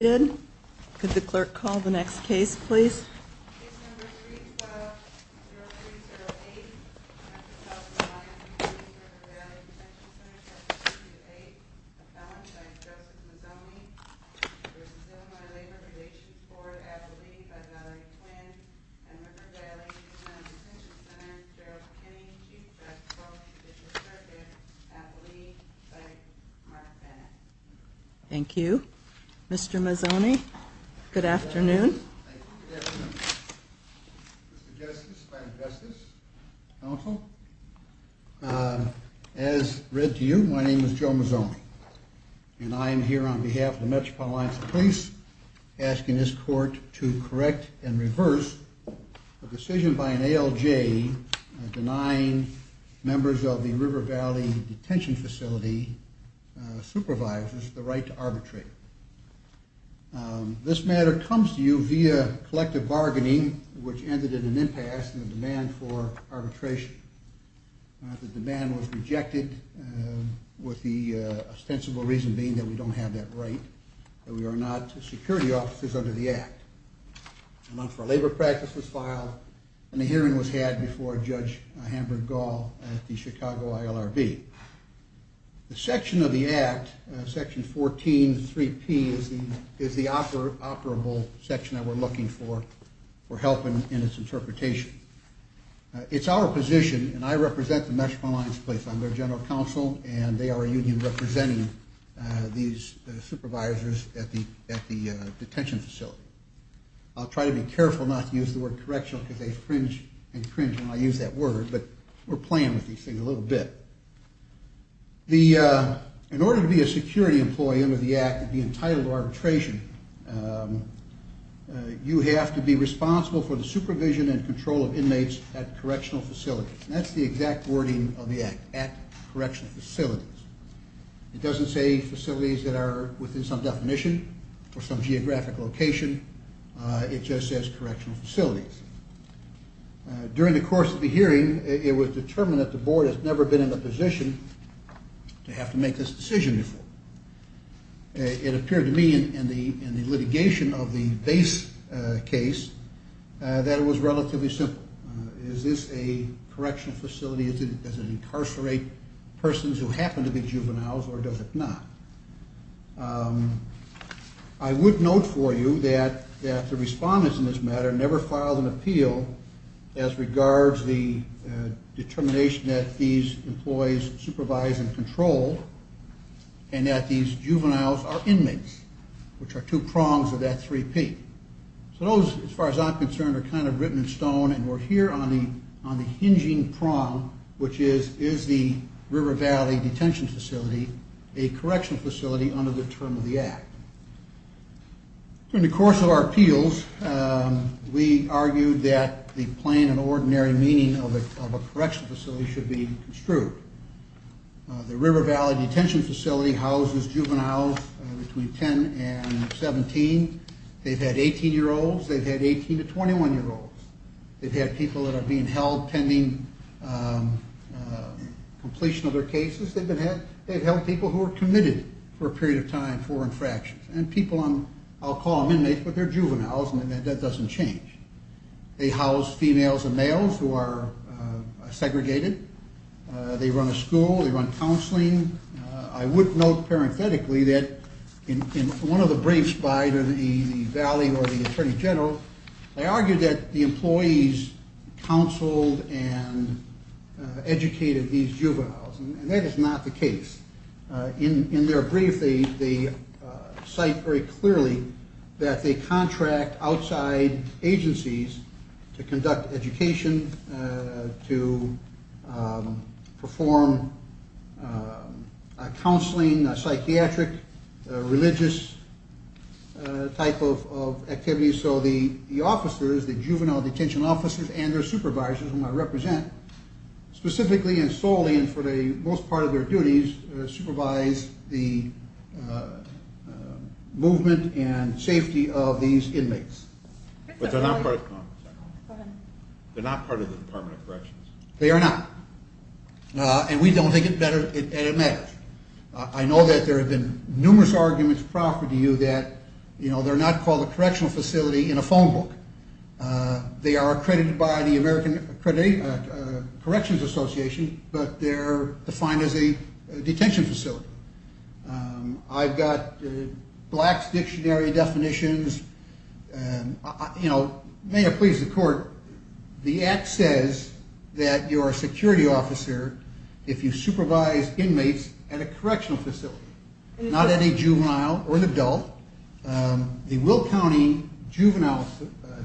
Could the clerk call the next case, please? Thank you. Thank you. Mr. Mazzoni, good afternoon. Thank you. Good afternoon. Mr. Justice, Madam Justice, Counsel, as read to you, my name is Joe Mazzoni. And I am here on behalf of the Metropolitan Alliance of Police asking this court to correct and reverse a decision by an ALJ denying members of the River Valley Detention Facility supervisors the right to arbitrate. This matter comes to you via collective bargaining, which ended in an impasse in the demand for arbitration. The demand was rejected with the ostensible reason being that we don't have that right, that we are not security officers under the Act. A month for labor practice was filed, and a hearing was had before Judge Hamburg-Gall at the Chicago ILRB. The section of the Act, Section 14.3p, is the operable section that we're looking for, for help in its interpretation. It's our position, and I represent the Metropolitan Alliance of Police. I'm their general counsel, and they are a union representing these supervisors at the detention facility. I'll try to be careful not to use the word correctional because they fringe and cringe when I use that word, but we're playing with these things a little bit. In order to be a security employee under the Act and be entitled to arbitration, you have to be responsible for the supervision and control of inmates at correctional facilities. That's the exact wording of the Act, at correctional facilities. It doesn't say facilities that are within some definition or some geographic location. It just says correctional facilities. During the course of the hearing, it was determined that the board has never been in a position to have to make this decision before. It appeared to me in the litigation of the base case that it was relatively simple. Is this a correctional facility? Does it incarcerate persons who happen to be juveniles, or does it not? I would note for you that the respondents in this matter never filed an appeal as regards the determination that these employees supervise and control, and that these juveniles are inmates, which are two prongs of that three P. So those, as far as I'm concerned, are kind of written in stone, and we're here on the hinging prong, which is, is the River Valley Detention Facility a correctional facility under the term of the Act? During the course of our appeals, we argued that the plain and ordinary meaning of a correctional facility should be construed. The River Valley Detention Facility houses juveniles between 10 and 17. They've had 18-year-olds. They've had 18- to 21-year-olds. They've had people that are being held pending completion of their cases. They've held people who are committed for a period of time for infractions. And people on, I'll call them inmates, but they're juveniles, and that doesn't change. They house females and males who are segregated. They run a school. They run counseling. I would note parenthetically that in one of the briefs by the Valley or the Attorney General, they argued that the employees counseled and educated these juveniles, and that is not the case. In their brief, they cite very clearly that they contract outside agencies to conduct education, to perform counseling, psychiatric, religious type of activities. So the officers, the juvenile detention officers and their supervisors whom I represent, specifically and solely and for the most part of their duties, supervise the movement and safety of these inmates. But they're not part of the Department of Corrections. They are not, and we don't think it matters. I know that there have been numerous arguments proffered to you that, you know, they're not called a correctional facility in a phone book. They are accredited by the American Corrections Association, but they're defined as a detention facility. I've got Black's Dictionary definitions. You know, may it please the court, the act says that you're a security officer if you supervise inmates at a correctional facility, not at a juvenile or an adult. The Will County Juvenile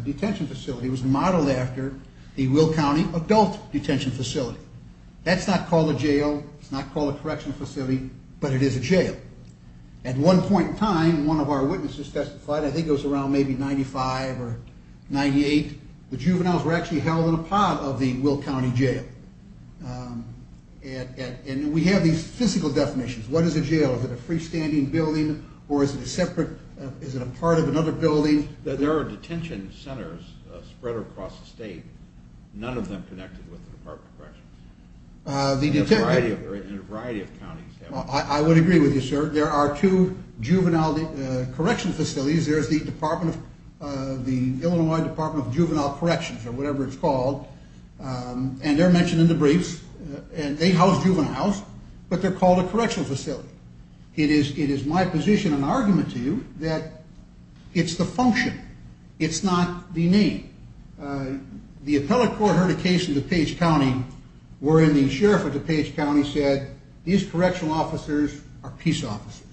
Detention Facility was modeled after the Will County Adult Detention Facility. That's not called a jail. It's not called a correctional facility, but it is a jail. At one point in time, one of our witnesses testified, I think it was around maybe 95 or 98, the juveniles were actually held in a pod of the Will County Jail. What is a jail? Is it a freestanding building, or is it a separate, is it a part of another building? There are detention centers spread across the state. None of them connected with the Department of Corrections. In a variety of counties. I would agree with you, sir. There are two juvenile correctional facilities. There's the Illinois Department of Juvenile Corrections, or whatever it's called, and they're mentioned in the briefs. They house juveniles, but they're called a correctional facility. It is my position and argument to you that it's the function. It's not the name. The appellate court heard a case in DuPage County wherein the sheriff of DuPage County said, these correctional officers are peace officers.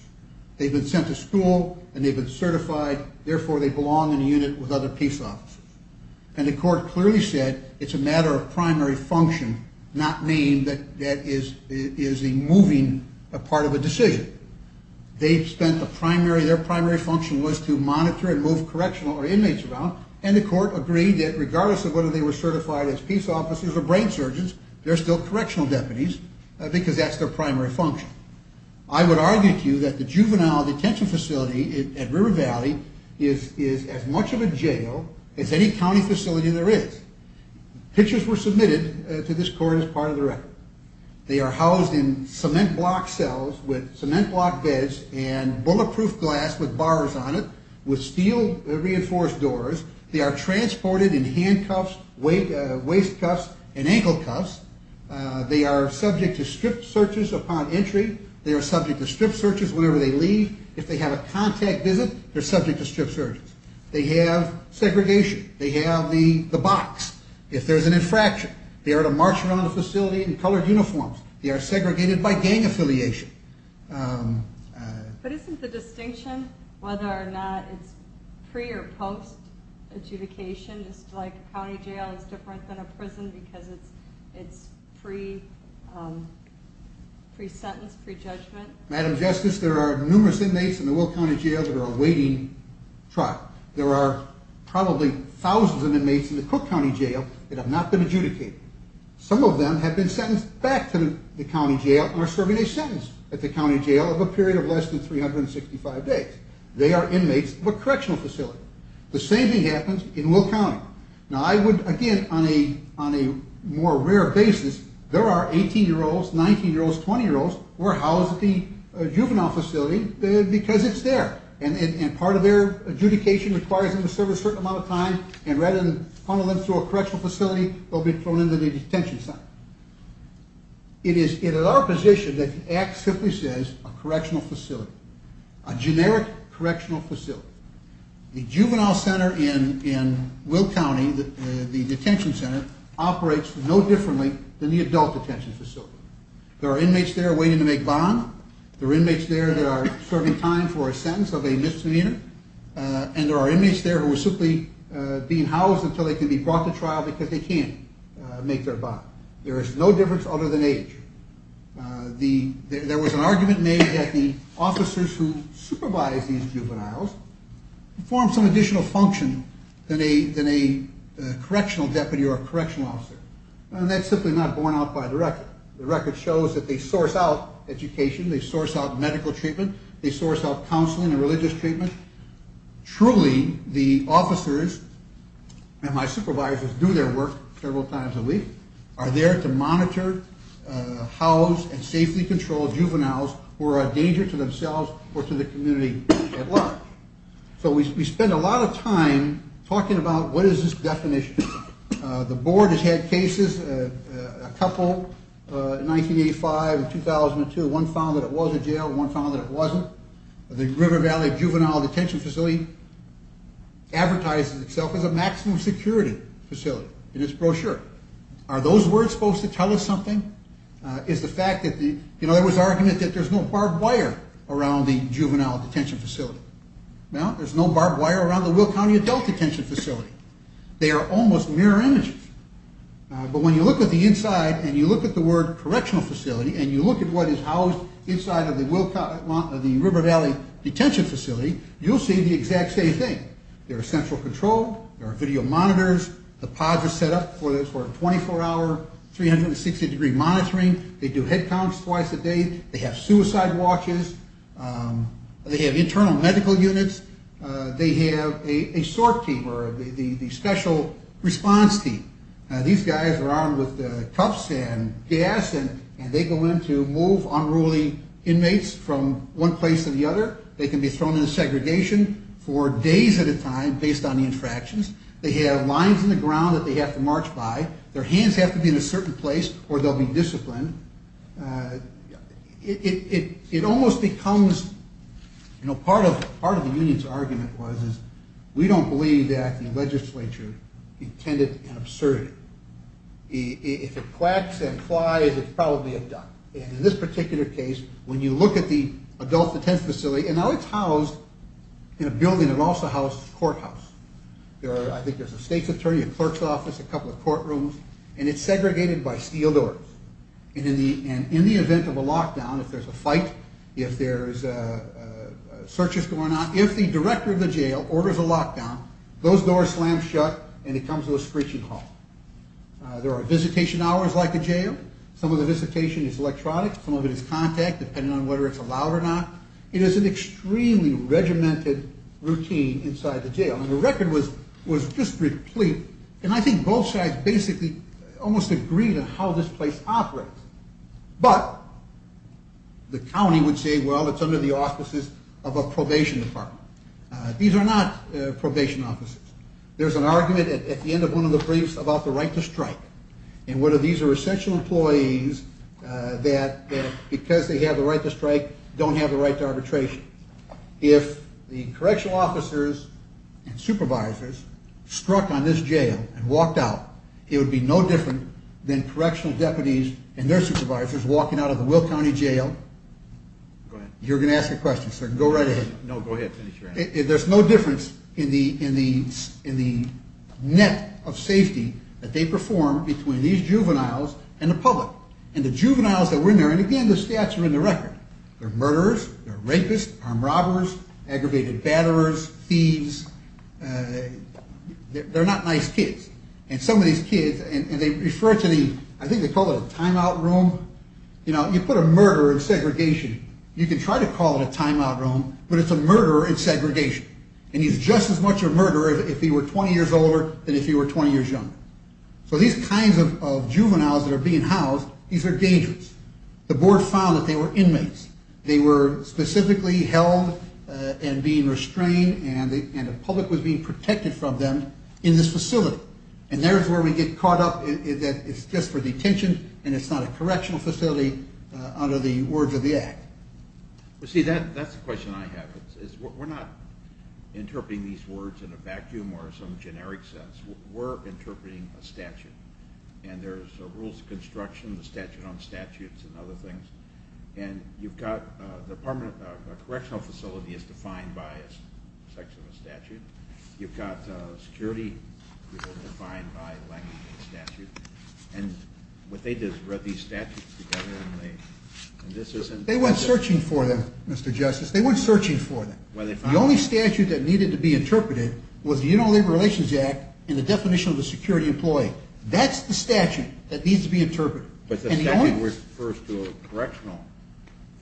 They've been sent to school, and they've been certified. Therefore, they belong in a unit with other peace officers. And the court clearly said it's a matter of primary function, not name that is a moving part of a decision. Their primary function was to monitor and move correctional inmates around, and the court agreed that regardless of whether they were certified as peace officers or brain surgeons, they're still correctional deputies because that's their primary function. I would argue to you that the juvenile detention facility at River Valley is as much of a jail as any county facility there is. Pictures were submitted to this court as part of the record. They are housed in cement block cells with cement block beds and bulletproof glass with bars on it with steel reinforced doors. They are transported in handcuffs, waist cuffs, and ankle cuffs. They are subject to strip searches upon entry. They are subject to strip searches whenever they leave. If they have a contact visit, they're subject to strip searches. They have segregation. They have the box. If there's an infraction, they are to march around the facility in colored uniforms. They are segregated by gang affiliation. But isn't the distinction whether or not it's pre- or post-adjudication, just like a county jail is different than a prison because it's pre-sentence, pre-judgment? Madam Justice, there are numerous inmates in the Will County Jail that are awaiting trial. There are probably thousands of inmates in the Cook County Jail that have not been adjudicated. Some of them have been sentenced back to the county jail and are serving a sentence at the county jail of a period of less than 365 days. They are inmates of a correctional facility. The same thing happens in Will County. Now, I would, again, on a more rare basis, there are 18-year-olds, 19-year-olds, 20-year-olds who are housed at the juvenile facility because it's there, and part of their adjudication requires them to serve a certain amount of time, and rather than funnel them through a correctional facility, they'll be thrown into the detention center. It is in our position that the act simply says a correctional facility, a generic correctional facility. The juvenile center in Will County, the detention center, operates no differently than the adult detention facility. There are inmates there waiting to make bond. There are inmates there that are serving time for a sentence of a misdemeanor, and there are inmates there who are simply being housed until they can be brought to trial because they can't make their bond. There is no difference other than age. There was an argument made that the officers who supervise these juveniles perform some additional function than a correctional deputy or a correctional officer, and that's simply not borne out by the record. The record shows that they source out education, they source out medical treatment, they source out counseling and religious treatment. Truly, the officers and my supervisors do their work several times a week, are there to monitor, house, and safely control juveniles who are a danger to themselves or to the community at large. So we spend a lot of time talking about what is this definition. The board has had cases, a couple, in 1985 and 2002. One found that it was a jail, one found that it wasn't. The River Valley Juvenile Detention Facility advertises itself as a maximum security facility in its brochure. Are those words supposed to tell us something? Is the fact that the, you know, there was argument that there's no barbed wire around the juvenile detention facility. Well, there's no barbed wire around the Will County Adult Detention Facility. They are almost mirror images. But when you look at the inside and you look at the word correctional facility and you look at what is housed inside of the River Valley Detention Facility, you'll see the exact same thing. There are central control. There are video monitors. The pods are set up for 24-hour, 360-degree monitoring. They do head counts twice a day. They have suicide watches. They have internal medical units. They have a SORT team, or the Special Response Team. These guys are armed with cuffs and gas, and they go in to move unruly inmates from one place to the other. They can be thrown into segregation for days at a time based on the infractions. They have lines in the ground that they have to march by. Their hands have to be in a certain place or they'll be disciplined. It almost becomes, you know, part of the union's argument was, is we don't believe that the legislature intended an absurdity. If it quacks and flies, it's probably a duck. In this particular case, when you look at the Adult Detention Facility, it's housed in a building that also houses a courthouse. I think there's a state's attorney, a clerk's office, a couple of courtrooms, and it's segregated by steel doors. In the event of a lockdown, if there's a fight, if there's searches going on, if the director of the jail orders a lockdown, those doors slam shut and he comes to a screeching halt. There are visitation hours like a jail. Some of the visitation is electronic. Some of it is contact, depending on whether it's allowed or not. It is an extremely regimented routine inside the jail. And the record was just replete. And I think both sides basically almost agreed on how this place operates. But the county would say, well, it's under the auspices of a probation department. These are not probation offices. There's an argument at the end of one of the briefs about the right to strike and whether these are essential employees that because they have the right to strike don't have the right to arbitration. If the correctional officers and supervisors struck on this jail and walked out, it would be no different than correctional deputies and their supervisors walking out of the Will County Jail. You're going to ask a question, so go right ahead. There's no difference in the net of safety that they perform between these juveniles and the public. And the juveniles that were in there, and again the stats are in the record, they're murderers, they're rapists, armed robbers, aggravated batterers, thieves. They're not nice kids. And some of these kids, and they refer to the, I think they call it a time-out room. You know, you put a murderer in segregation, you can try to call it a time-out room, but it's a murderer in segregation. And he's just as much a murderer if he were 20 years older than if he were 20 years younger. So these kinds of juveniles that are being housed, these are dangerous. The board found that they were inmates. They were specifically held and being restrained, and the public was being protected from them in this facility. And there's where we get caught up that it's just for detention and it's not a correctional facility under the words of the act. Well, see, that's the question I have. We're not interpreting these words in a vacuum or some generic sense. We're interpreting a statute. And there's rules of construction, the statute on statutes and other things. And you've got the department, a correctional facility is defined by a section of a statute. You've got security, defined by language of the statute. And what they did is read these statutes together, and this isn't. They weren't searching for them, Mr. Justice. They weren't searching for them. The only statute that needed to be interpreted was the Uniform Labor Relations Act and the definition of a security employee. That's the statute that needs to be interpreted. But the statute refers to a correctional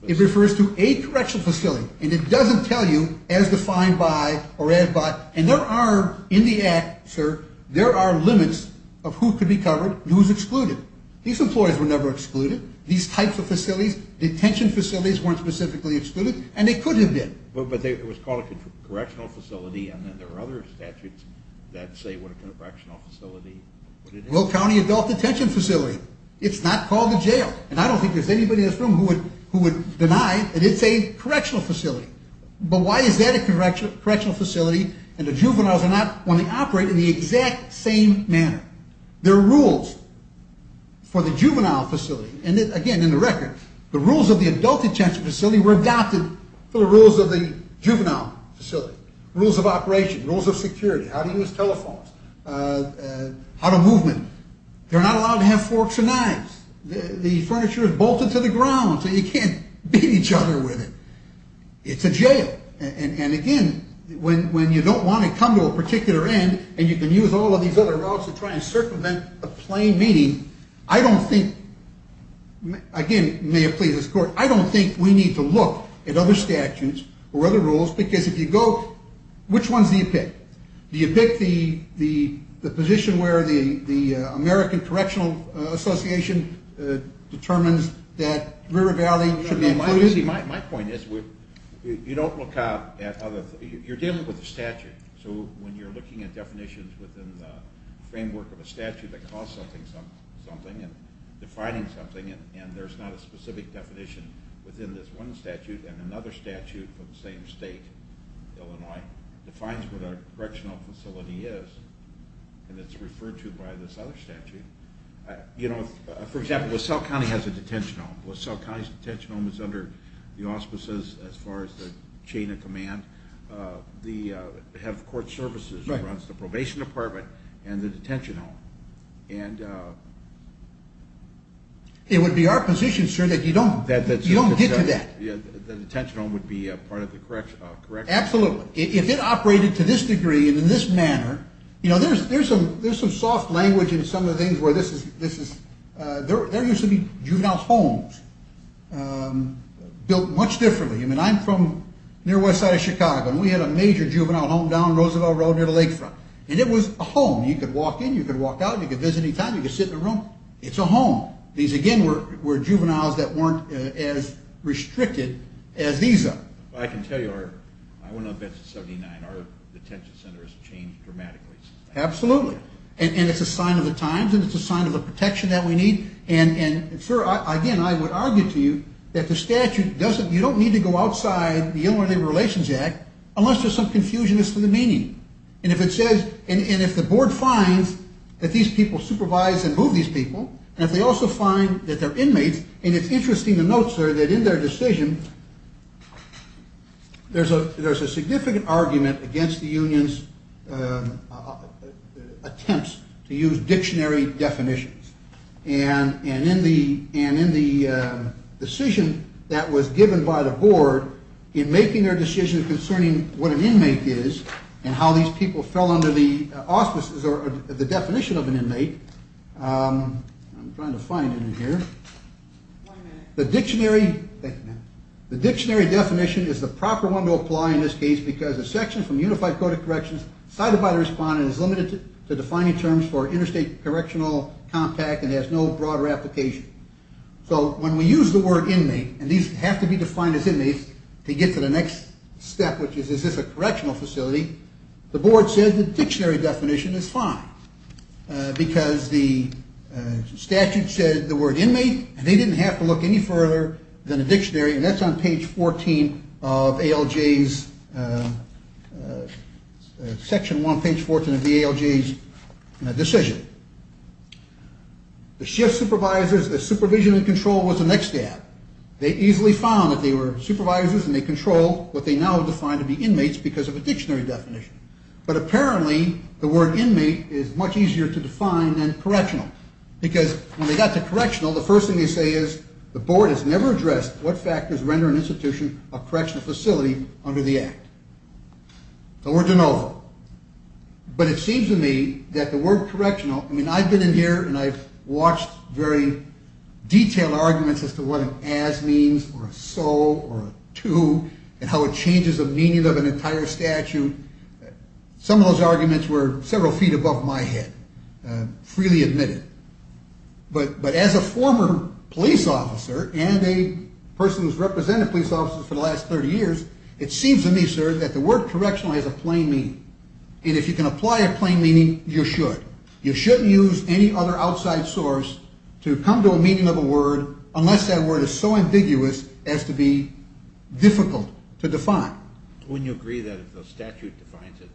facility. It refers to a correctional facility, and it doesn't tell you as defined by or added by. And there are, in the act, sir, there are limits of who could be covered and who is excluded. These employees were never excluded. These types of facilities, detention facilities, weren't specifically excluded, and they could have been. But it was called a correctional facility, and then there were other statutes that say what a correctional facility would have been. Will County Adult Detention Facility. It's not called a jail. And I don't think there's anybody in this room who would deny that it's a correctional facility. But why is that a correctional facility and the juveniles are not only operating in the exact same manner? There are rules for the juvenile facility, and again, in the record, the rules of the adult detention facility were adopted for the rules of the juvenile facility. Rules of operation, rules of security, how to use telephones, how to movement. They're not allowed to have forks and knives. The furniture is bolted to the ground so you can't beat each other with it. It's a jail. And again, when you don't want to come to a particular end and you can use all of these other routes to try and circumvent a plain meeting, I don't think, again, may it please this Court, I don't think we need to look at other statutes or other rules because if you go, which ones do you pick? Do you pick the position where the American Correctional Association determines that River Valley should be included? My point is you don't look at other things. You're dealing with a statute. So when you're looking at definitions within the framework of a statute that calls something something and defining something and there's not a specific definition within this one statute and another statute from the same state, Illinois, defines what a correctional facility is and it's referred to by this other statute. You know, for example, LaSalle County has a detention home. LaSalle County's detention home is under the auspices as far as the chain of command. They have court services across the probation department and the detention home. It would be our position, sir, that you don't get to that. The detention home would be part of the correctional facility. Absolutely. If it operated to this degree and in this manner, you know, there's some soft language in some of the things where this is, there used to be juvenile homes built much differently. I'm from near west side of Chicago and we had a major juvenile home down Roosevelt Road near the lakefront. And it was a home. You could walk in. You could walk out. You could visit any time. You could sit in a room. It's a home. These, again, were juveniles that weren't as restricted as these are. Absolutely. And it's a sign of the times and it's a sign of the protection that we need. And, sir, again, I would argue to you that the statute doesn't, you don't need to go outside the Illinois Labor Relations Act unless there's some confusion as to the meaning. And if it says, and if the board finds that these people supervise and move these people, and if they also find that they're inmates, and it's interesting to note, sir, that in their decision there's a significant argument against the union's attempts to use dictionary definitions. And in the decision that was given by the board in making their decision concerning what an inmate is and how these people fell under the auspices or the definition of an inmate, I'm trying to find it in here. The dictionary, the dictionary definition is the proper one to apply in this case because a section from unified code of corrections cited by the respondent is limited to defining terms for interstate correctional contact and has no broader application. So when we use the word inmate, and these have to be defined as inmates to get to the next step, which is is this a correctional facility, the board said the dictionary definition is fine because the statute said the word inmate, and they didn't have to look any further than a dictionary, and that's on page 14 of ALJ's section 1, page 14 of the ALJ's decision. The shift supervisors, the supervision and control was the next step. They easily found that they were supervisors and they controlled what they now defined to be inmates because of a dictionary definition. But apparently the word inmate is much easier to define than correctional because when they got to correctional, the first thing they say is the board has never addressed what factors render an institution a correctional facility under the act. The word de novo. But it seems to me that the word correctional, I mean I've been in here and I've watched very detailed arguments as to what an as means or a so or a to and how it changes the meaning of an entire statute. Some of those arguments were several feet above my head, freely admitted. But as a former police officer and a person who's represented police officers for the last 30 years, it seems to me, sir, that the word correctional has a plain meaning. And if you can apply a plain meaning, you should. You shouldn't use any other outside source to come to a meaning of a word unless that word is so ambiguous as to be difficult to define. Wouldn't you agree that if the statute defines it,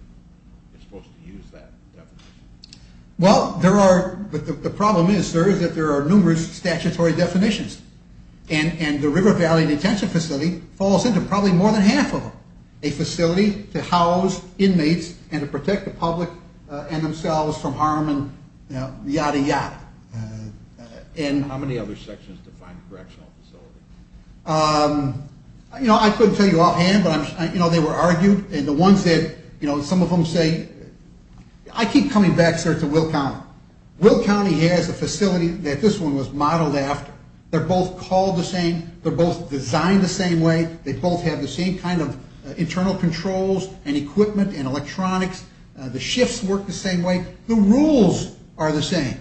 you're supposed to use that definition? Well, there are, but the problem is, sir, is that there are numerous statutory definitions. And the River Valley Detention Facility falls into probably more than half of them. A facility to house inmates and to protect the public and themselves from harm and yada yada. And how many other sections define correctional facilities? You know, I couldn't tell you offhand, but, you know, they were argued. And the ones that, you know, some of them say, I keep coming back, sir, to Will County. Will County has a facility that this one was modeled after. They're both called the same. They're both designed the same way. They both have the same kind of internal controls and equipment and electronics. The shifts work the same way. The rules are the same.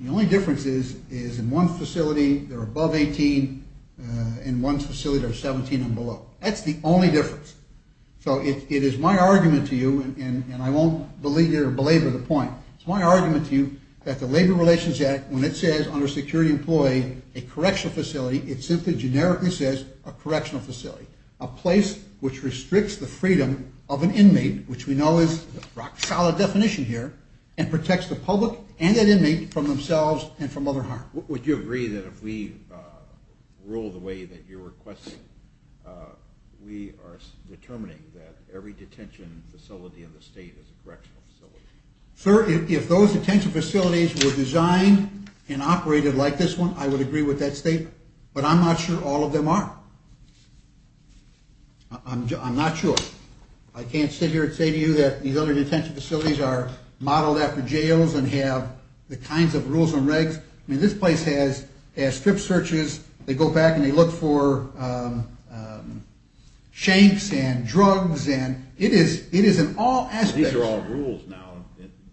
The only difference is in one facility, they're above 18. In one facility, they're 17 and below. That's the only difference. So it is my argument to you, and I won't belabor the point. It's my argument to you that the Labor Relations Act, when it says under security employee a correctional facility, it simply generically says a correctional facility, a place which restricts the freedom of an inmate, which we know is a solid definition here, and protects the public and an inmate from themselves and from other harm. Would you agree that if we rule the way that you're requesting, we are determining that every detention facility in the state is a correctional facility? Sir, if those detention facilities were designed and operated like this one, I would agree with that statement. But I'm not sure all of them are. I'm not sure. I can't sit here and say to you that these other detention facilities are modeled after jails and have the kinds of rules and regs. I mean, this place has strip searches. They go back and they look for shanks and drugs, and it is in all aspects. These are all rules now.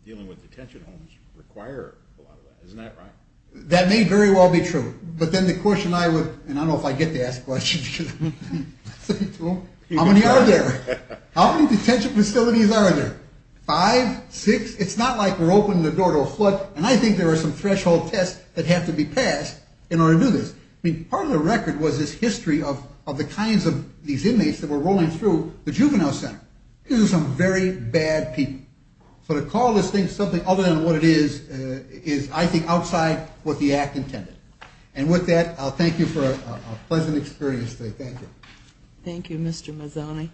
Dealing with detention homes require a lot of that. Isn't that right? That may very well be true. But then the question I would, and I don't know if I get to ask questions because I'm sitting through them. How many are there? How many detention facilities are there? Five? Six? It's not like we're opening the door to a flood, and I think there are some threshold tests that have to be passed in order to do this. I mean, part of the record was this history of the kinds of these inmates that were rolling through the juvenile center. These are some very bad people. So to call this thing something other than what it is, is, I think, outside what the Act intended. And with that, I'll thank you for a pleasant experience today. Thank you. Thank you, Mr. Mazzoni.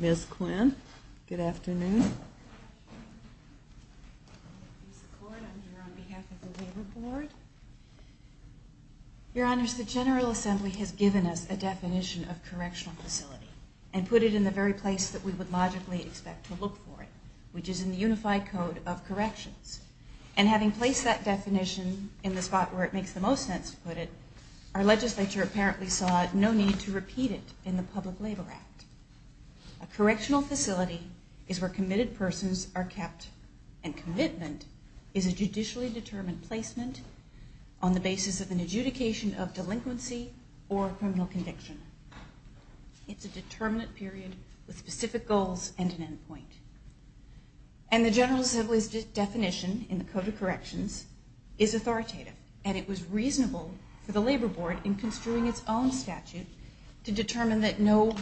Ms. Quinn, good afternoon. I'm here on behalf of the Labor Board. Your Honors, the General Assembly has given us a definition of correctional facility and put it in the very place that we would logically expect to look for it, which is in the Unified Code of Corrections. And having placed that definition in the spot where it makes the most sense to put it, our legislature apparently saw no need to repeat it in the Public Labor Act. A correctional facility is where committed persons are kept and commitment is a judicially determined placement on the basis of an adjudication of delinquency or a criminal conviction. It's a determinate period with specific goals and an end point. And the General Assembly's definition in the Code of Corrections is authoritative, and it was reasonable for the Labor Board, in construing its own statute, to determine that no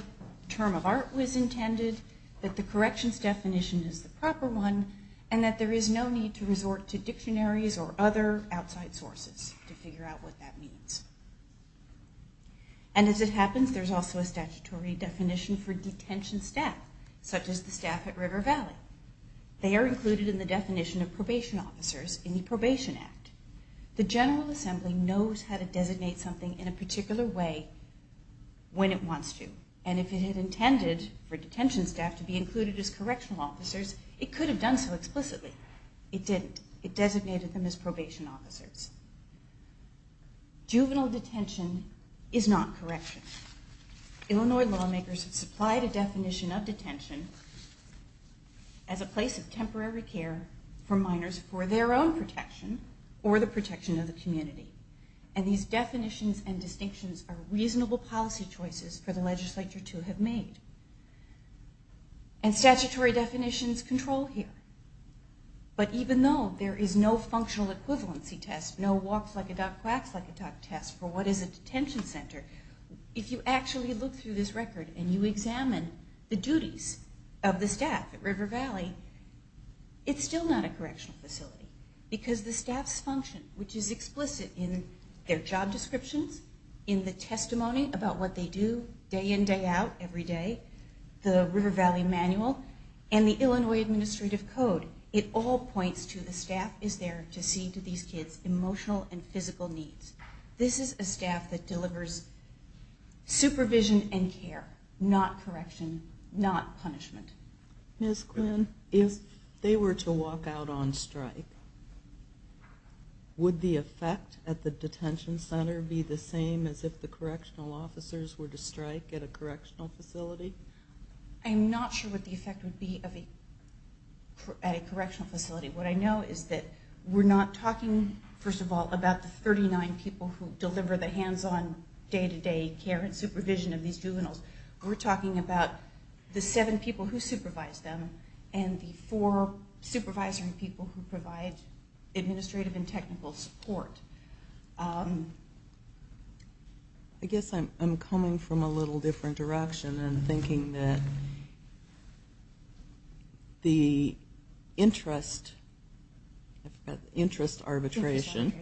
term of art was intended, that the corrections definition is the proper one, and that there is no need to resort to dictionaries or other outside sources to figure out what that means. And as it happens, there's also a statutory definition for detention staff, such as the staff at River Valley. They are included in the definition of probation officers in the Probation Act. The General Assembly knows how to designate something in a particular way when it wants to. And if it had intended for detention staff to be included as correctional officers, it could have done so explicitly. It didn't. It designated them as probation officers. Juvenile detention is not correction. Illinois lawmakers have supplied a definition of detention as a place of temporary care for minors for their own protection or the protection of the community. And these definitions and distinctions are reasonable policy choices for the legislature to have made. And statutory definitions control here. But even though there is no functional equivalency test, no walks-like-a-duck, quacks-like-a-duck test for what is a detention center, if you actually look through this record and you examine the duties of the staff at River Valley, it's still not a correctional facility. Because the staff's function, which is explicit in their job descriptions, in the testimony about what they do day in, day out, every day, the River Valley Manual, and the Illinois Administrative Code, it all points to the staff is there to see to these kids' emotional and physical needs. This is a staff that delivers supervision and care, not correction, not punishment. Ms. Quinn, if they were to walk out on strike, would the effect at the detention center be the same as if the correctional officers were to strike at a correctional facility? I'm not sure what the effect would be at a correctional facility. What I know is that we're not talking, first of all, about the 39 people who deliver the hands-on day-to-day care and supervision of these juveniles. We're talking about the seven people who supervise them and the four supervisory people who provide administrative and technical support. I guess I'm coming from a little different direction and thinking that the interest arbitration,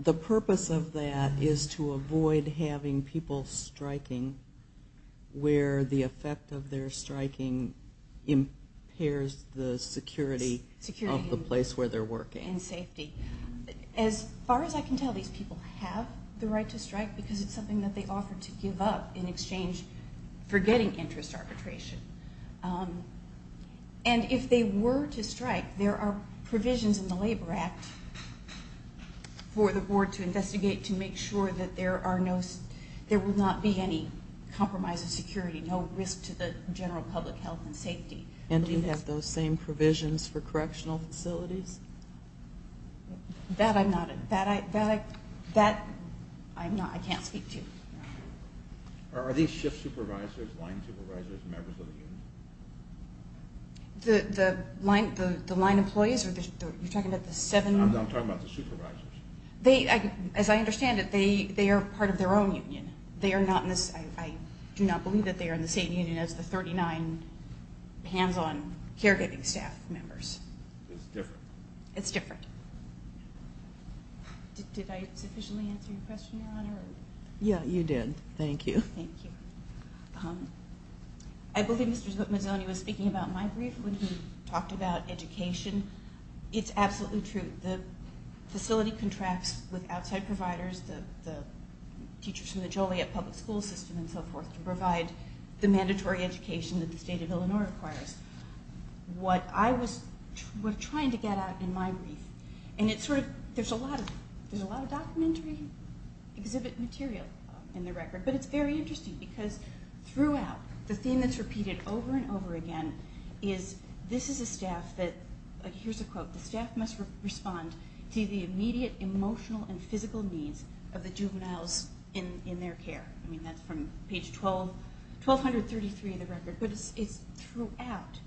the purpose of that is to avoid having people striking where the effect of their striking impairs the security of the place where they're working. And safety. As far as I can tell, these people have the right to strike because it's something that they offer to give up in exchange for getting interest arbitration. And if they were to strike, there are provisions in the Labor Act for the board to investigate to make sure that there will not be any compromise of security, no risk to the general public health and safety. And do you have those same provisions for correctional facilities? That I'm not. That I can't speak to. Are these shift supervisors, line supervisors, members of the union? The line employees? You're talking about the seven? I'm talking about the supervisors. As I understand it, they are part of their own union. They are not in this. I do not believe that they are in the same union as the 39 hands-on caregiving staff members. It's different. It's different. Did I sufficiently answer your question, Your Honor? Yeah, you did. Thank you. Thank you. I believe Mr. Mazzoni was speaking about my brief when he talked about education. It's absolutely true. The facility contracts with outside providers, the teachers from the Joliet public school system and so forth, to provide the mandatory education that the state of Illinois requires. That's what I was trying to get at in my brief. And there's a lot of documentary exhibit material in the record. But it's very interesting because throughout, the theme that's repeated over and over again is, this is a staff that, here's a quote, the staff must respond to the immediate emotional and physical needs of the juveniles in their care. I mean, that's from page 1,233 of the record. But it's throughout.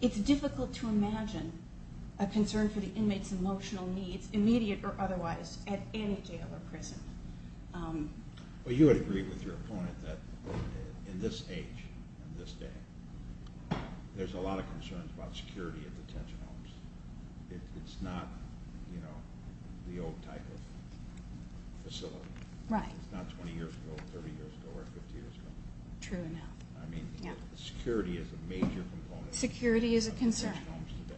It's difficult to imagine a concern for the inmate's emotional needs, immediate or otherwise, at any jail or prison. Well, you would agree with your opponent that in this age, in this day, there's a lot of concerns about security at detention homes. It's not the old type of facility. Right. It's not 20 years ago, 30 years ago, or 50 years ago. True enough. I mean, security is a major component. Security is a concern.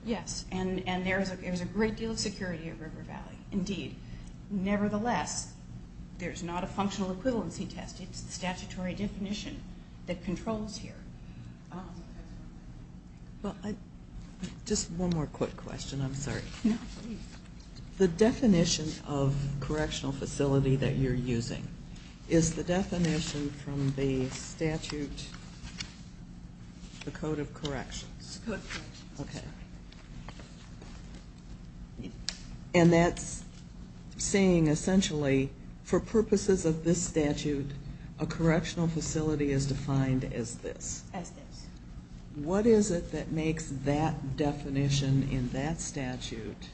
Yes. And there's a great deal of security at River Valley. Indeed. Nevertheless, there's not a functional equivalency test. It's the statutory definition that controls here. Just one more quick question. I'm sorry. No, please. The definition of correctional facility that you're using is the definition from the statute, the Code of Corrections. The Code of Corrections. Okay. And that's saying, essentially, for purposes of this statute, a correctional facility is defined as this. As this. What is it that makes that definition in that statute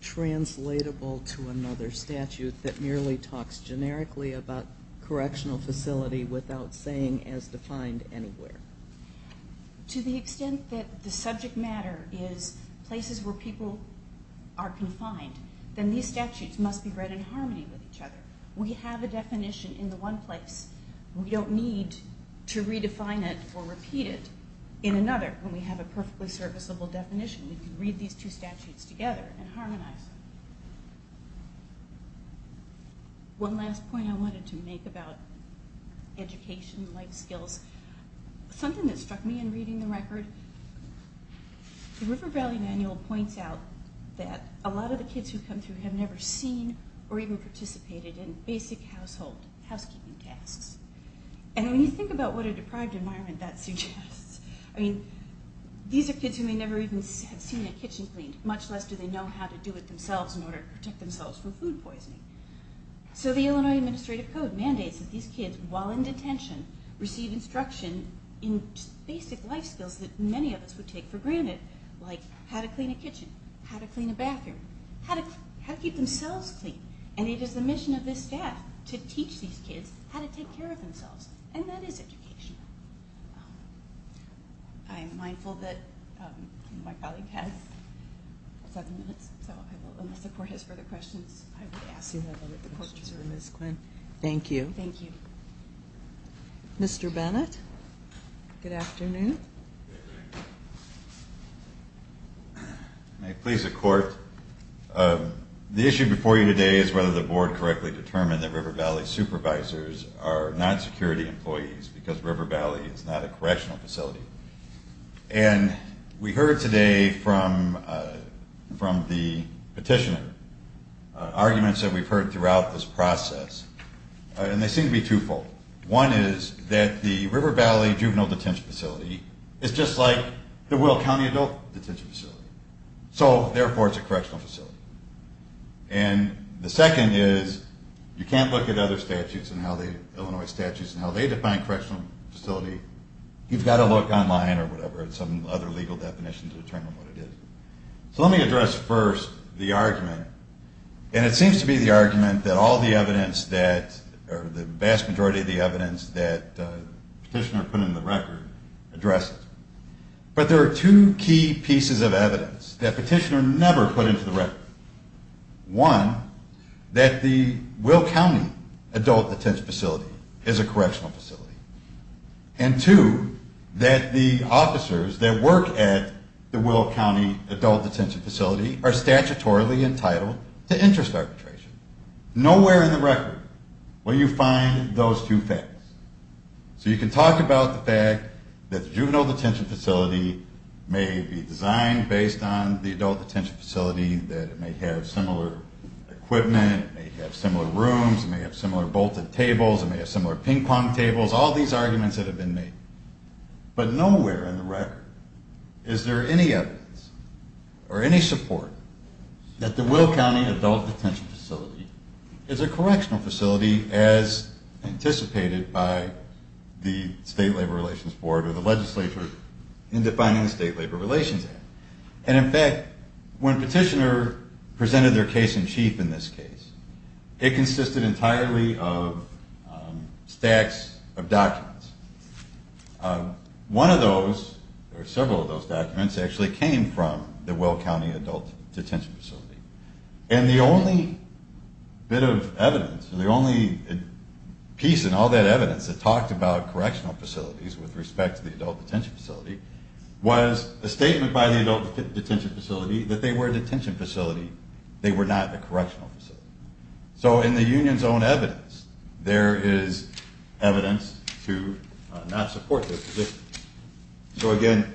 translatable to another statute that merely talks generically about correctional facility without saying as defined anywhere? To the extent that the subject matter is places where people are confined, then these statutes must be read in harmony with each other. We have a definition in the one place. We don't need to redefine it or repeat it in another when we have a perfectly serviceable definition. We can read these two statutes together and harmonize. One last point I wanted to make about education, life skills, something that struck me in reading the record, the River Valley Manual points out that a lot of the kids who come through have never seen or even participated in basic household housekeeping tasks. And when you think about what a deprived environment that suggests, I mean, these are kids who may never even have seen a kitchen cleaned, much less do they know how to do it themselves in order to protect themselves from food poisoning. So the Illinois Administrative Code mandates that these kids, while in detention, receive instruction in basic life skills that many of us would take for granted, like how to clean a kitchen, how to clean a bathroom, how to keep themselves clean. And it is the mission of this staff to teach these kids how to take care of themselves. And that is education. I am mindful that my colleague has seven minutes, so unless the court has further questions, I would ask that the court reserve Ms. Quinn. Thank you. Mr. Bennett. Good afternoon. May it please the court. The issue before you today is whether the board correctly determined that River Valley supervisors are not security employees because River Valley is not a correctional facility. And we heard today from the petitioner arguments that we've heard throughout this process. And they seem to be twofold. One is that the River Valley juvenile detention facility is just like the Will County adult detention facility. So, therefore, it's a correctional facility. And the second is you can't look at other statutes, Illinois statutes, and how they define correctional facility. You've got to look online or whatever at some other legal definition to determine what it is. So let me address first the argument. And it seems to be the argument that all the evidence that, or the vast majority of the evidence that the petitioner put in the record addresses. But there are two key pieces of evidence that the petitioner never put into the record. One, that the Will County adult detention facility is a correctional facility. And two, that the officers that work at the Will County adult detention facility are statutorily entitled to interest arbitration. Nowhere in the record will you find those two facts. So you can talk about the fact that the juvenile detention facility may be designed based on the adult detention facility, that it may have similar equipment, it may have similar rooms, it may have similar bolted tables, it may have similar ping-pong tables, all these arguments that have been made. But nowhere in the record is there any evidence or any support that the Will County adult detention facility is a correctional facility as anticipated by the State Labor Relations Board or the legislature in defining the State Labor Relations Act. And in fact, when a petitioner presented their case in chief in this case, it consisted entirely of stacks of documents. One of those, or several of those documents, actually came from the Will County adult detention facility. And the only bit of evidence, the only piece in all that evidence that talked about correctional facilities with respect to the adult detention facility was a statement by the adult detention facility that they were a detention facility, they were not a correctional facility. So in the union's own evidence, there is evidence to not support this position. So again,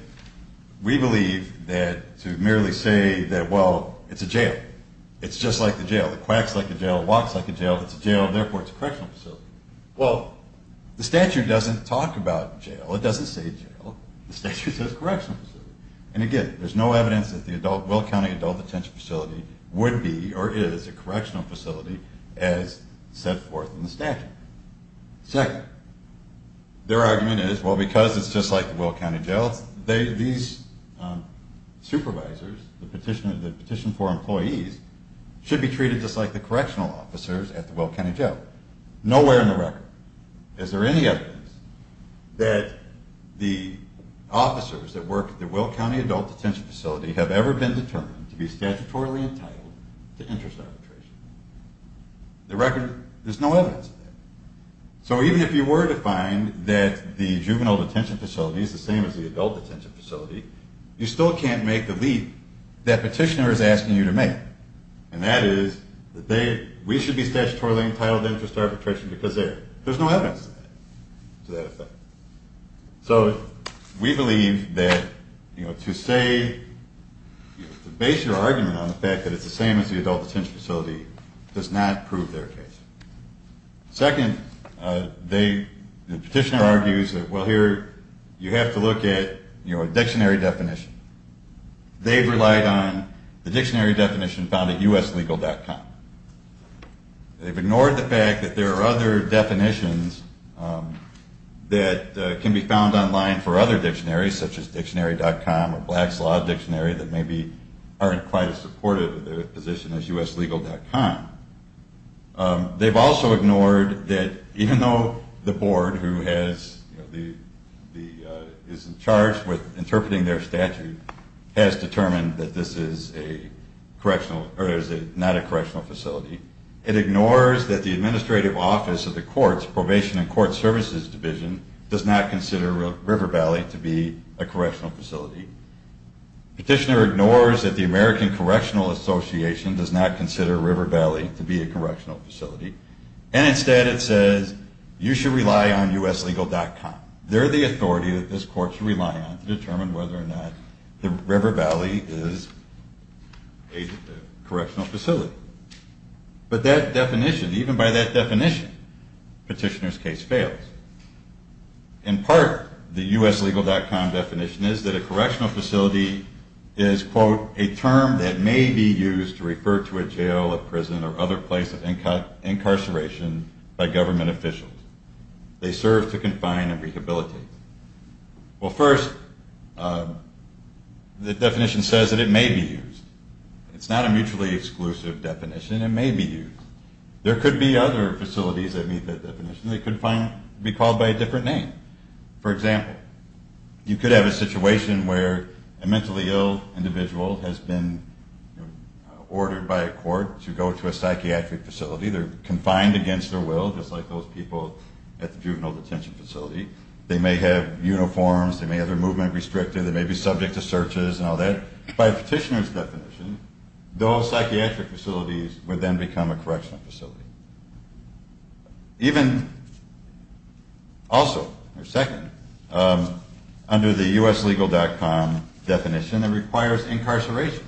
we believe that to merely say that, well, it's a jail, it's just like the jail, it quacks like a jail, it walks like a jail, it's a jail, therefore it's a correctional facility. Well, the statute doesn't talk about jail, it doesn't say jail, the statute says correctional facility. And again, there's no evidence that the Will County adult detention facility would be or is a correctional facility as set forth in the statute. Second, their argument is, well, because it's just like the Will County jail, these supervisors, the petitioner, the petition for employees should be treated just like the correctional officers at the Will County jail. Nowhere in the record is there any evidence that the officers that work at the Will County adult detention facility have ever been determined to be statutorily entitled to interest arbitration. The record, there's no evidence of that. So even if you were to find that the juvenile detention facility is the same as the adult detention facility, you still can't make the leap that petitioner is asking you to make. And that is that we should be statutorily entitled to interest arbitration because there's no evidence to that effect. So we believe that to say, to base your argument on the fact that it's the same as the adult detention facility does not prove their case. Second, the petitioner argues that, well, here, you have to look at a dictionary definition. They've relied on the dictionary definition found at uslegal.com. They've ignored the fact that there are other definitions that can be found online for other dictionaries, such as dictionary.com or Black's Law Dictionary that maybe aren't quite as supportive of their position as uslegal.com. They've also ignored that even though the board who is in charge with interpreting their statute has determined that this is not a correctional facility, it ignores that the administrative office of the courts, probation and court services division, does not consider River Valley to be a correctional facility. Petitioner ignores that the American Correctional Association does not consider River Valley to be a correctional facility. And instead it says, you should rely on uslegal.com. They're the authority that this court should rely on to determine whether or not the River Valley is a correctional facility. But that definition, even by that definition, petitioner's case fails. In part, the uslegal.com definition is that a correctional facility is, quote, a term that may be used to refer to a jail, a prison, or other place of incarceration by government officials. They serve to confine and rehabilitate. Well, first, the definition says that it may be used. It's not a mutually exclusive definition. It may be used. There could be other facilities that meet that definition. They could be called by a different name. For example, you could have a situation where a mentally ill individual has been ordered by a court to go to a psychiatric facility. They're confined against their will, just like those people at the juvenile detention facility. They may have uniforms. They may have their movement restricted. They may be subject to searches and all that. By a petitioner's definition, those psychiatric facilities would then become a correctional facility. Even also, or second, under the uslegal.com definition, it requires incarceration.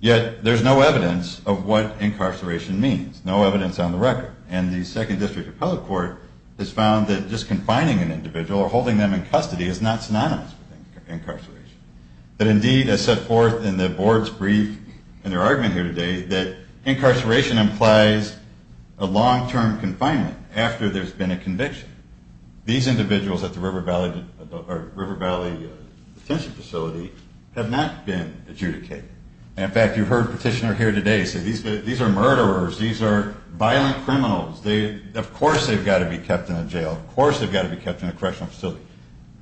Yet there's no evidence of what incarceration means, no evidence on the record. And the Second District Appellate Court has found that just confining an individual or holding them in custody is not synonymous with incarceration. But indeed, as set forth in the board's brief and their argument here today, that incarceration implies a long-term confinement after there's been a conviction. These individuals at the River Valley Detention Facility have not been adjudicated. In fact, you heard a petitioner here today say, these are murderers. These are violent criminals. Of course they've got to be kept in a jail. Of course they've got to be kept in a correctional facility.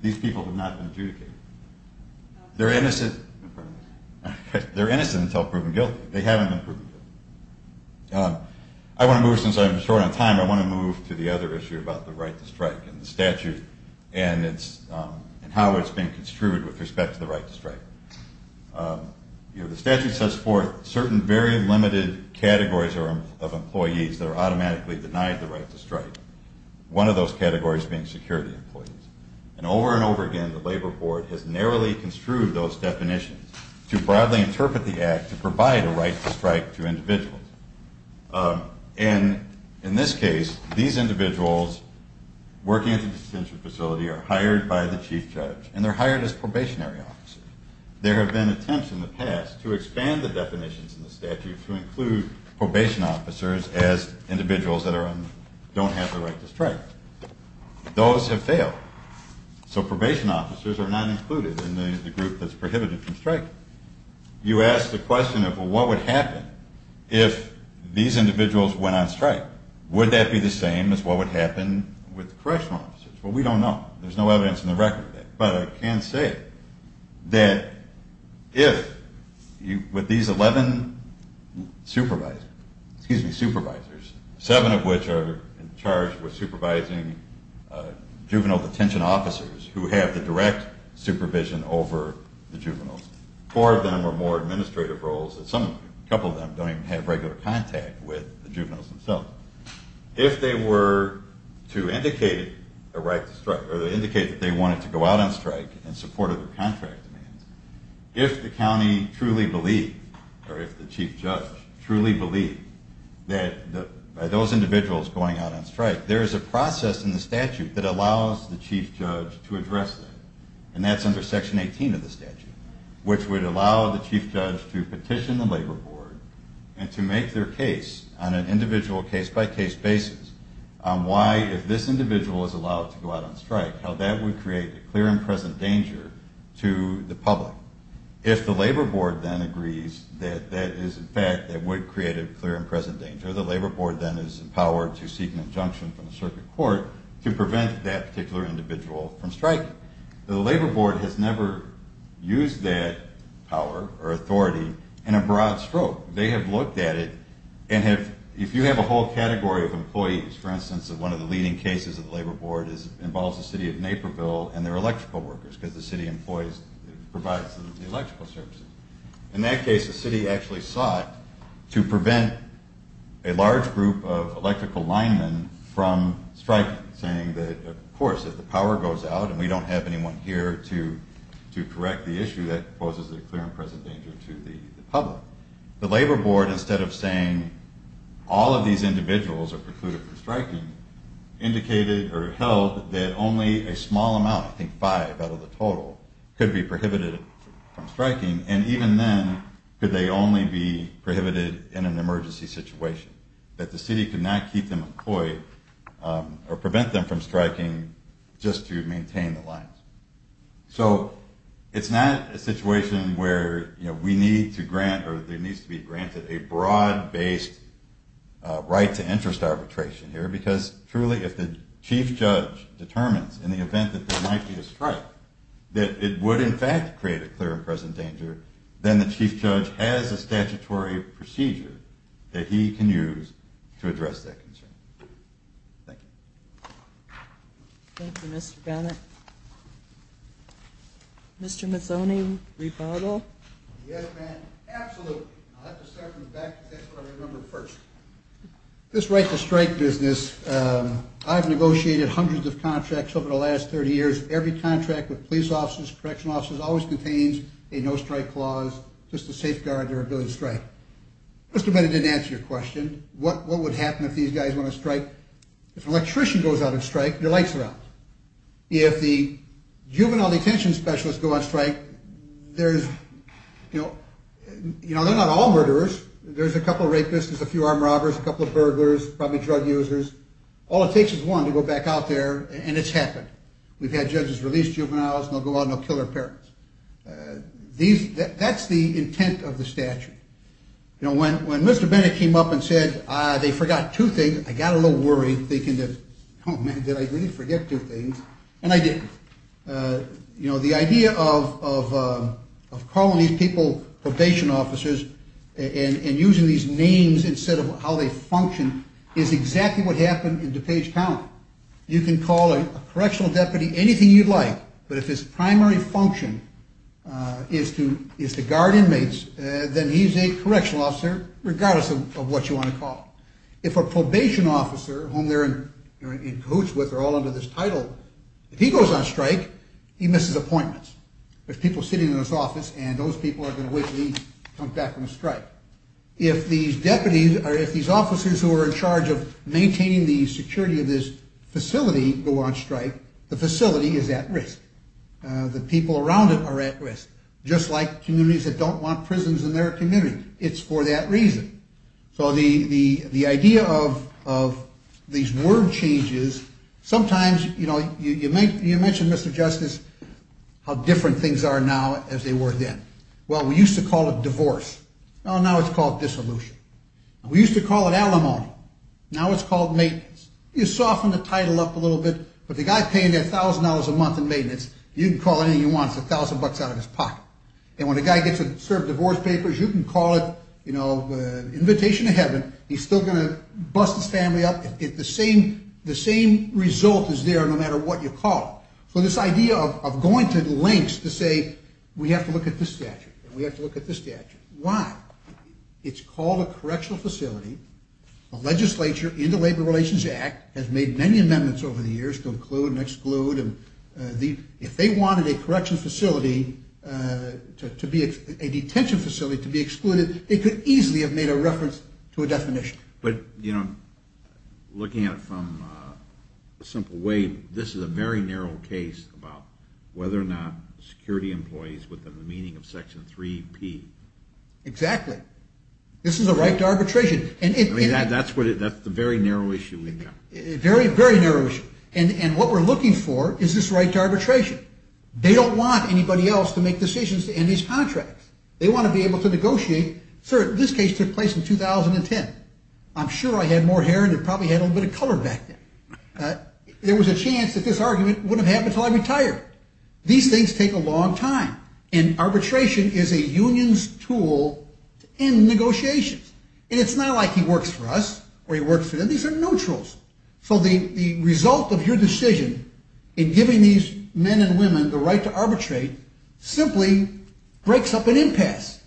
These people have not been adjudicated. They're innocent until proven guilty. They haven't been proven guilty. Since I'm short on time, I want to move to the other issue about the right to strike and the statute and how it's been construed with respect to the right to strike. The statute sets forth certain very limited categories of employees that are automatically denied the right to strike. One of those categories being security employees. And over and over again, the Labor Board has narrowly construed those definitions to broadly interpret the act to provide a right to strike to individuals. And in this case, these individuals working at the detention facility are hired by the chief judge, and they're hired as probationary officers. There have been attempts in the past to expand the definitions in the statute to include probation officers as individuals that don't have the right to strike. Those have failed. So probation officers are not included in the group that's prohibited from striking. You ask the question of, well, what would happen if these individuals went on strike? Would that be the same as what would happen with correctional officers? Well, we don't know. There's no evidence in the record. But I can say that if with these 11 supervisors, seven of which are in charge of supervising juvenile detention officers who have the direct supervision over the juveniles, four of them are more administrative roles and a couple of them don't even have regular contact with the juveniles themselves. If they were to indicate a right to strike or indicate that they wanted to go out on strike in support of their contract demands, if the county truly believed or if the chief judge truly believed that those individuals going out on strike, there is a process in the statute that allows the chief judge to address that. And that's under Section 18 of the statute, which would allow the chief judge to petition the labor board and to make their case on an individual case-by-case basis on why, if this individual is allowed to go out on strike, how that would create a clear and present danger to the public. If the labor board then agrees that that is, in fact, that would create a clear and present danger, the labor board then is empowered to seek an injunction from the circuit court to prevent that particular individual from striking. The labor board has never used that power or authority in a broad stroke. They have looked at it and if you have a whole category of employees, for instance, one of the leading cases of the labor board involves the city of Naperville and their electrical workers, because the city provides the electrical services. In that case, the city actually sought to prevent a large group of electrical linemen from striking, saying that, of course, if the power goes out and we don't have anyone here to correct the issue, that poses a clear and present danger to the public. The labor board, instead of saying all of these individuals are precluded from striking, indicated or held that only a small amount, I think five out of the total, could be prohibited from striking, and even then, could they only be prohibited in an emergency situation. That the city could not keep them employed or prevent them from striking just to maintain the lines. So it's not a situation where we need to grant or there needs to be granted a broad-based right to interest arbitration here, because truly, if the chief judge determines in the event that there might be a strike, that it would in fact create a clear and present danger, then the chief judge has a statutory procedure that he can use to address that concern. Thank you. Thank you, Mr. Bennett. Mr. Mazzoni, rebuttal? Yes, ma'am, absolutely. I'll have to start from the back because that's what I remembered first. This right to strike business, I've negotiated hundreds of contracts over the last 30 years. Every contract with police officers, correctional officers, always contains a no-strike clause just to safeguard their ability to strike. Mr. Bennett didn't answer your question. What would happen if these guys want to strike? If an electrician goes out and strikes, their lights are out. If the juvenile detention specialists go on strike, there's, you know, they're not all murderers. There's a couple rapists, there's a few armed robbers, a couple of burglars, probably drug users. All it takes is one to go back out there, and it's happened. We've had judges release juveniles, and they'll go out and they'll kill their parents. That's the intent of the statute. You know, when Mr. Bennett came up and said they forgot two things, I got a little worried thinking, oh, man, did I really forget two things? And I didn't. You know, the idea of calling these people probation officers and using these names instead of how they function is exactly what happened in DuPage County. You can call a correctional deputy anything you'd like, but if his primary function is to guard inmates, then he's a correctional officer, regardless of what you want to call him. If a probation officer, whom they're in cahoots with, they're all under this title, if he goes on strike, he misses appointments. There's people sitting in his office, and those people are going to wait until he comes back from a strike. If these deputies or if these officers who are in charge of maintaining the security of this facility go on strike, the facility is at risk. The people around it are at risk, just like communities that don't want prisons in their community. It's for that reason. So the idea of these word changes, sometimes, you know, you mentioned, Mr. Justice, how different things are now as they were then. Well, we used to call it divorce. Well, now it's called dissolution. We used to call it alimony. Now it's called maintenance. You soften the title up a little bit, but the guy paying $1,000 a month in maintenance, you can call it anything you want. It's $1,000 out of his pocket. And when a guy gets served divorce papers, you can call it, you know, invitation to heaven. He's still going to bust his family up. The same result is there, no matter what you call it. So this idea of going to lengths to say we have to look at this statute, we have to look at this statute. Why? It's called a correctional facility. The legislature in the Labor Relations Act has made many amendments over the years to include and exclude. If they wanted a correctional facility to be a detention facility to be excluded, they could easily have made a reference to a definition. But, you know, looking at it from a simple way, this is a very narrow case about whether or not security employees within the meaning of Section 3P. Exactly. This is a right to arbitration. I mean, that's the very narrow issue we've got. Very, very narrow issue. And what we're looking for is this right to arbitration. They don't want anybody else to make decisions to end these contracts. They want to be able to negotiate. Sir, this case took place in 2010. I'm sure I had more hair and probably had a little bit of color back then. There was a chance that this argument wouldn't have happened until I retired. These things take a long time. And arbitration is a union's tool to end negotiations. And it's not like he works for us or he works for them. These are neutrals. So the result of your decision in giving these men and women the right to arbitrate simply breaks up an impasse,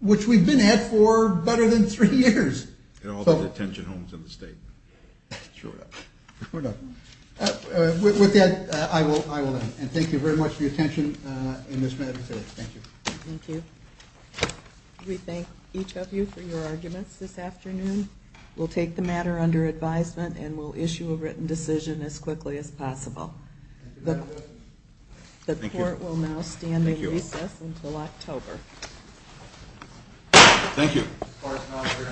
which we've been at for better than three years. And all the detention homes in the state. Sure enough. With that, I will end. And thank you very much for your attention in this matter today. Thank you. Thank you. We thank each of you for your arguments this afternoon. We'll take the matter under advisement and we'll issue a written decision as quickly as possible. The court will now stand in recess until October. Thank you.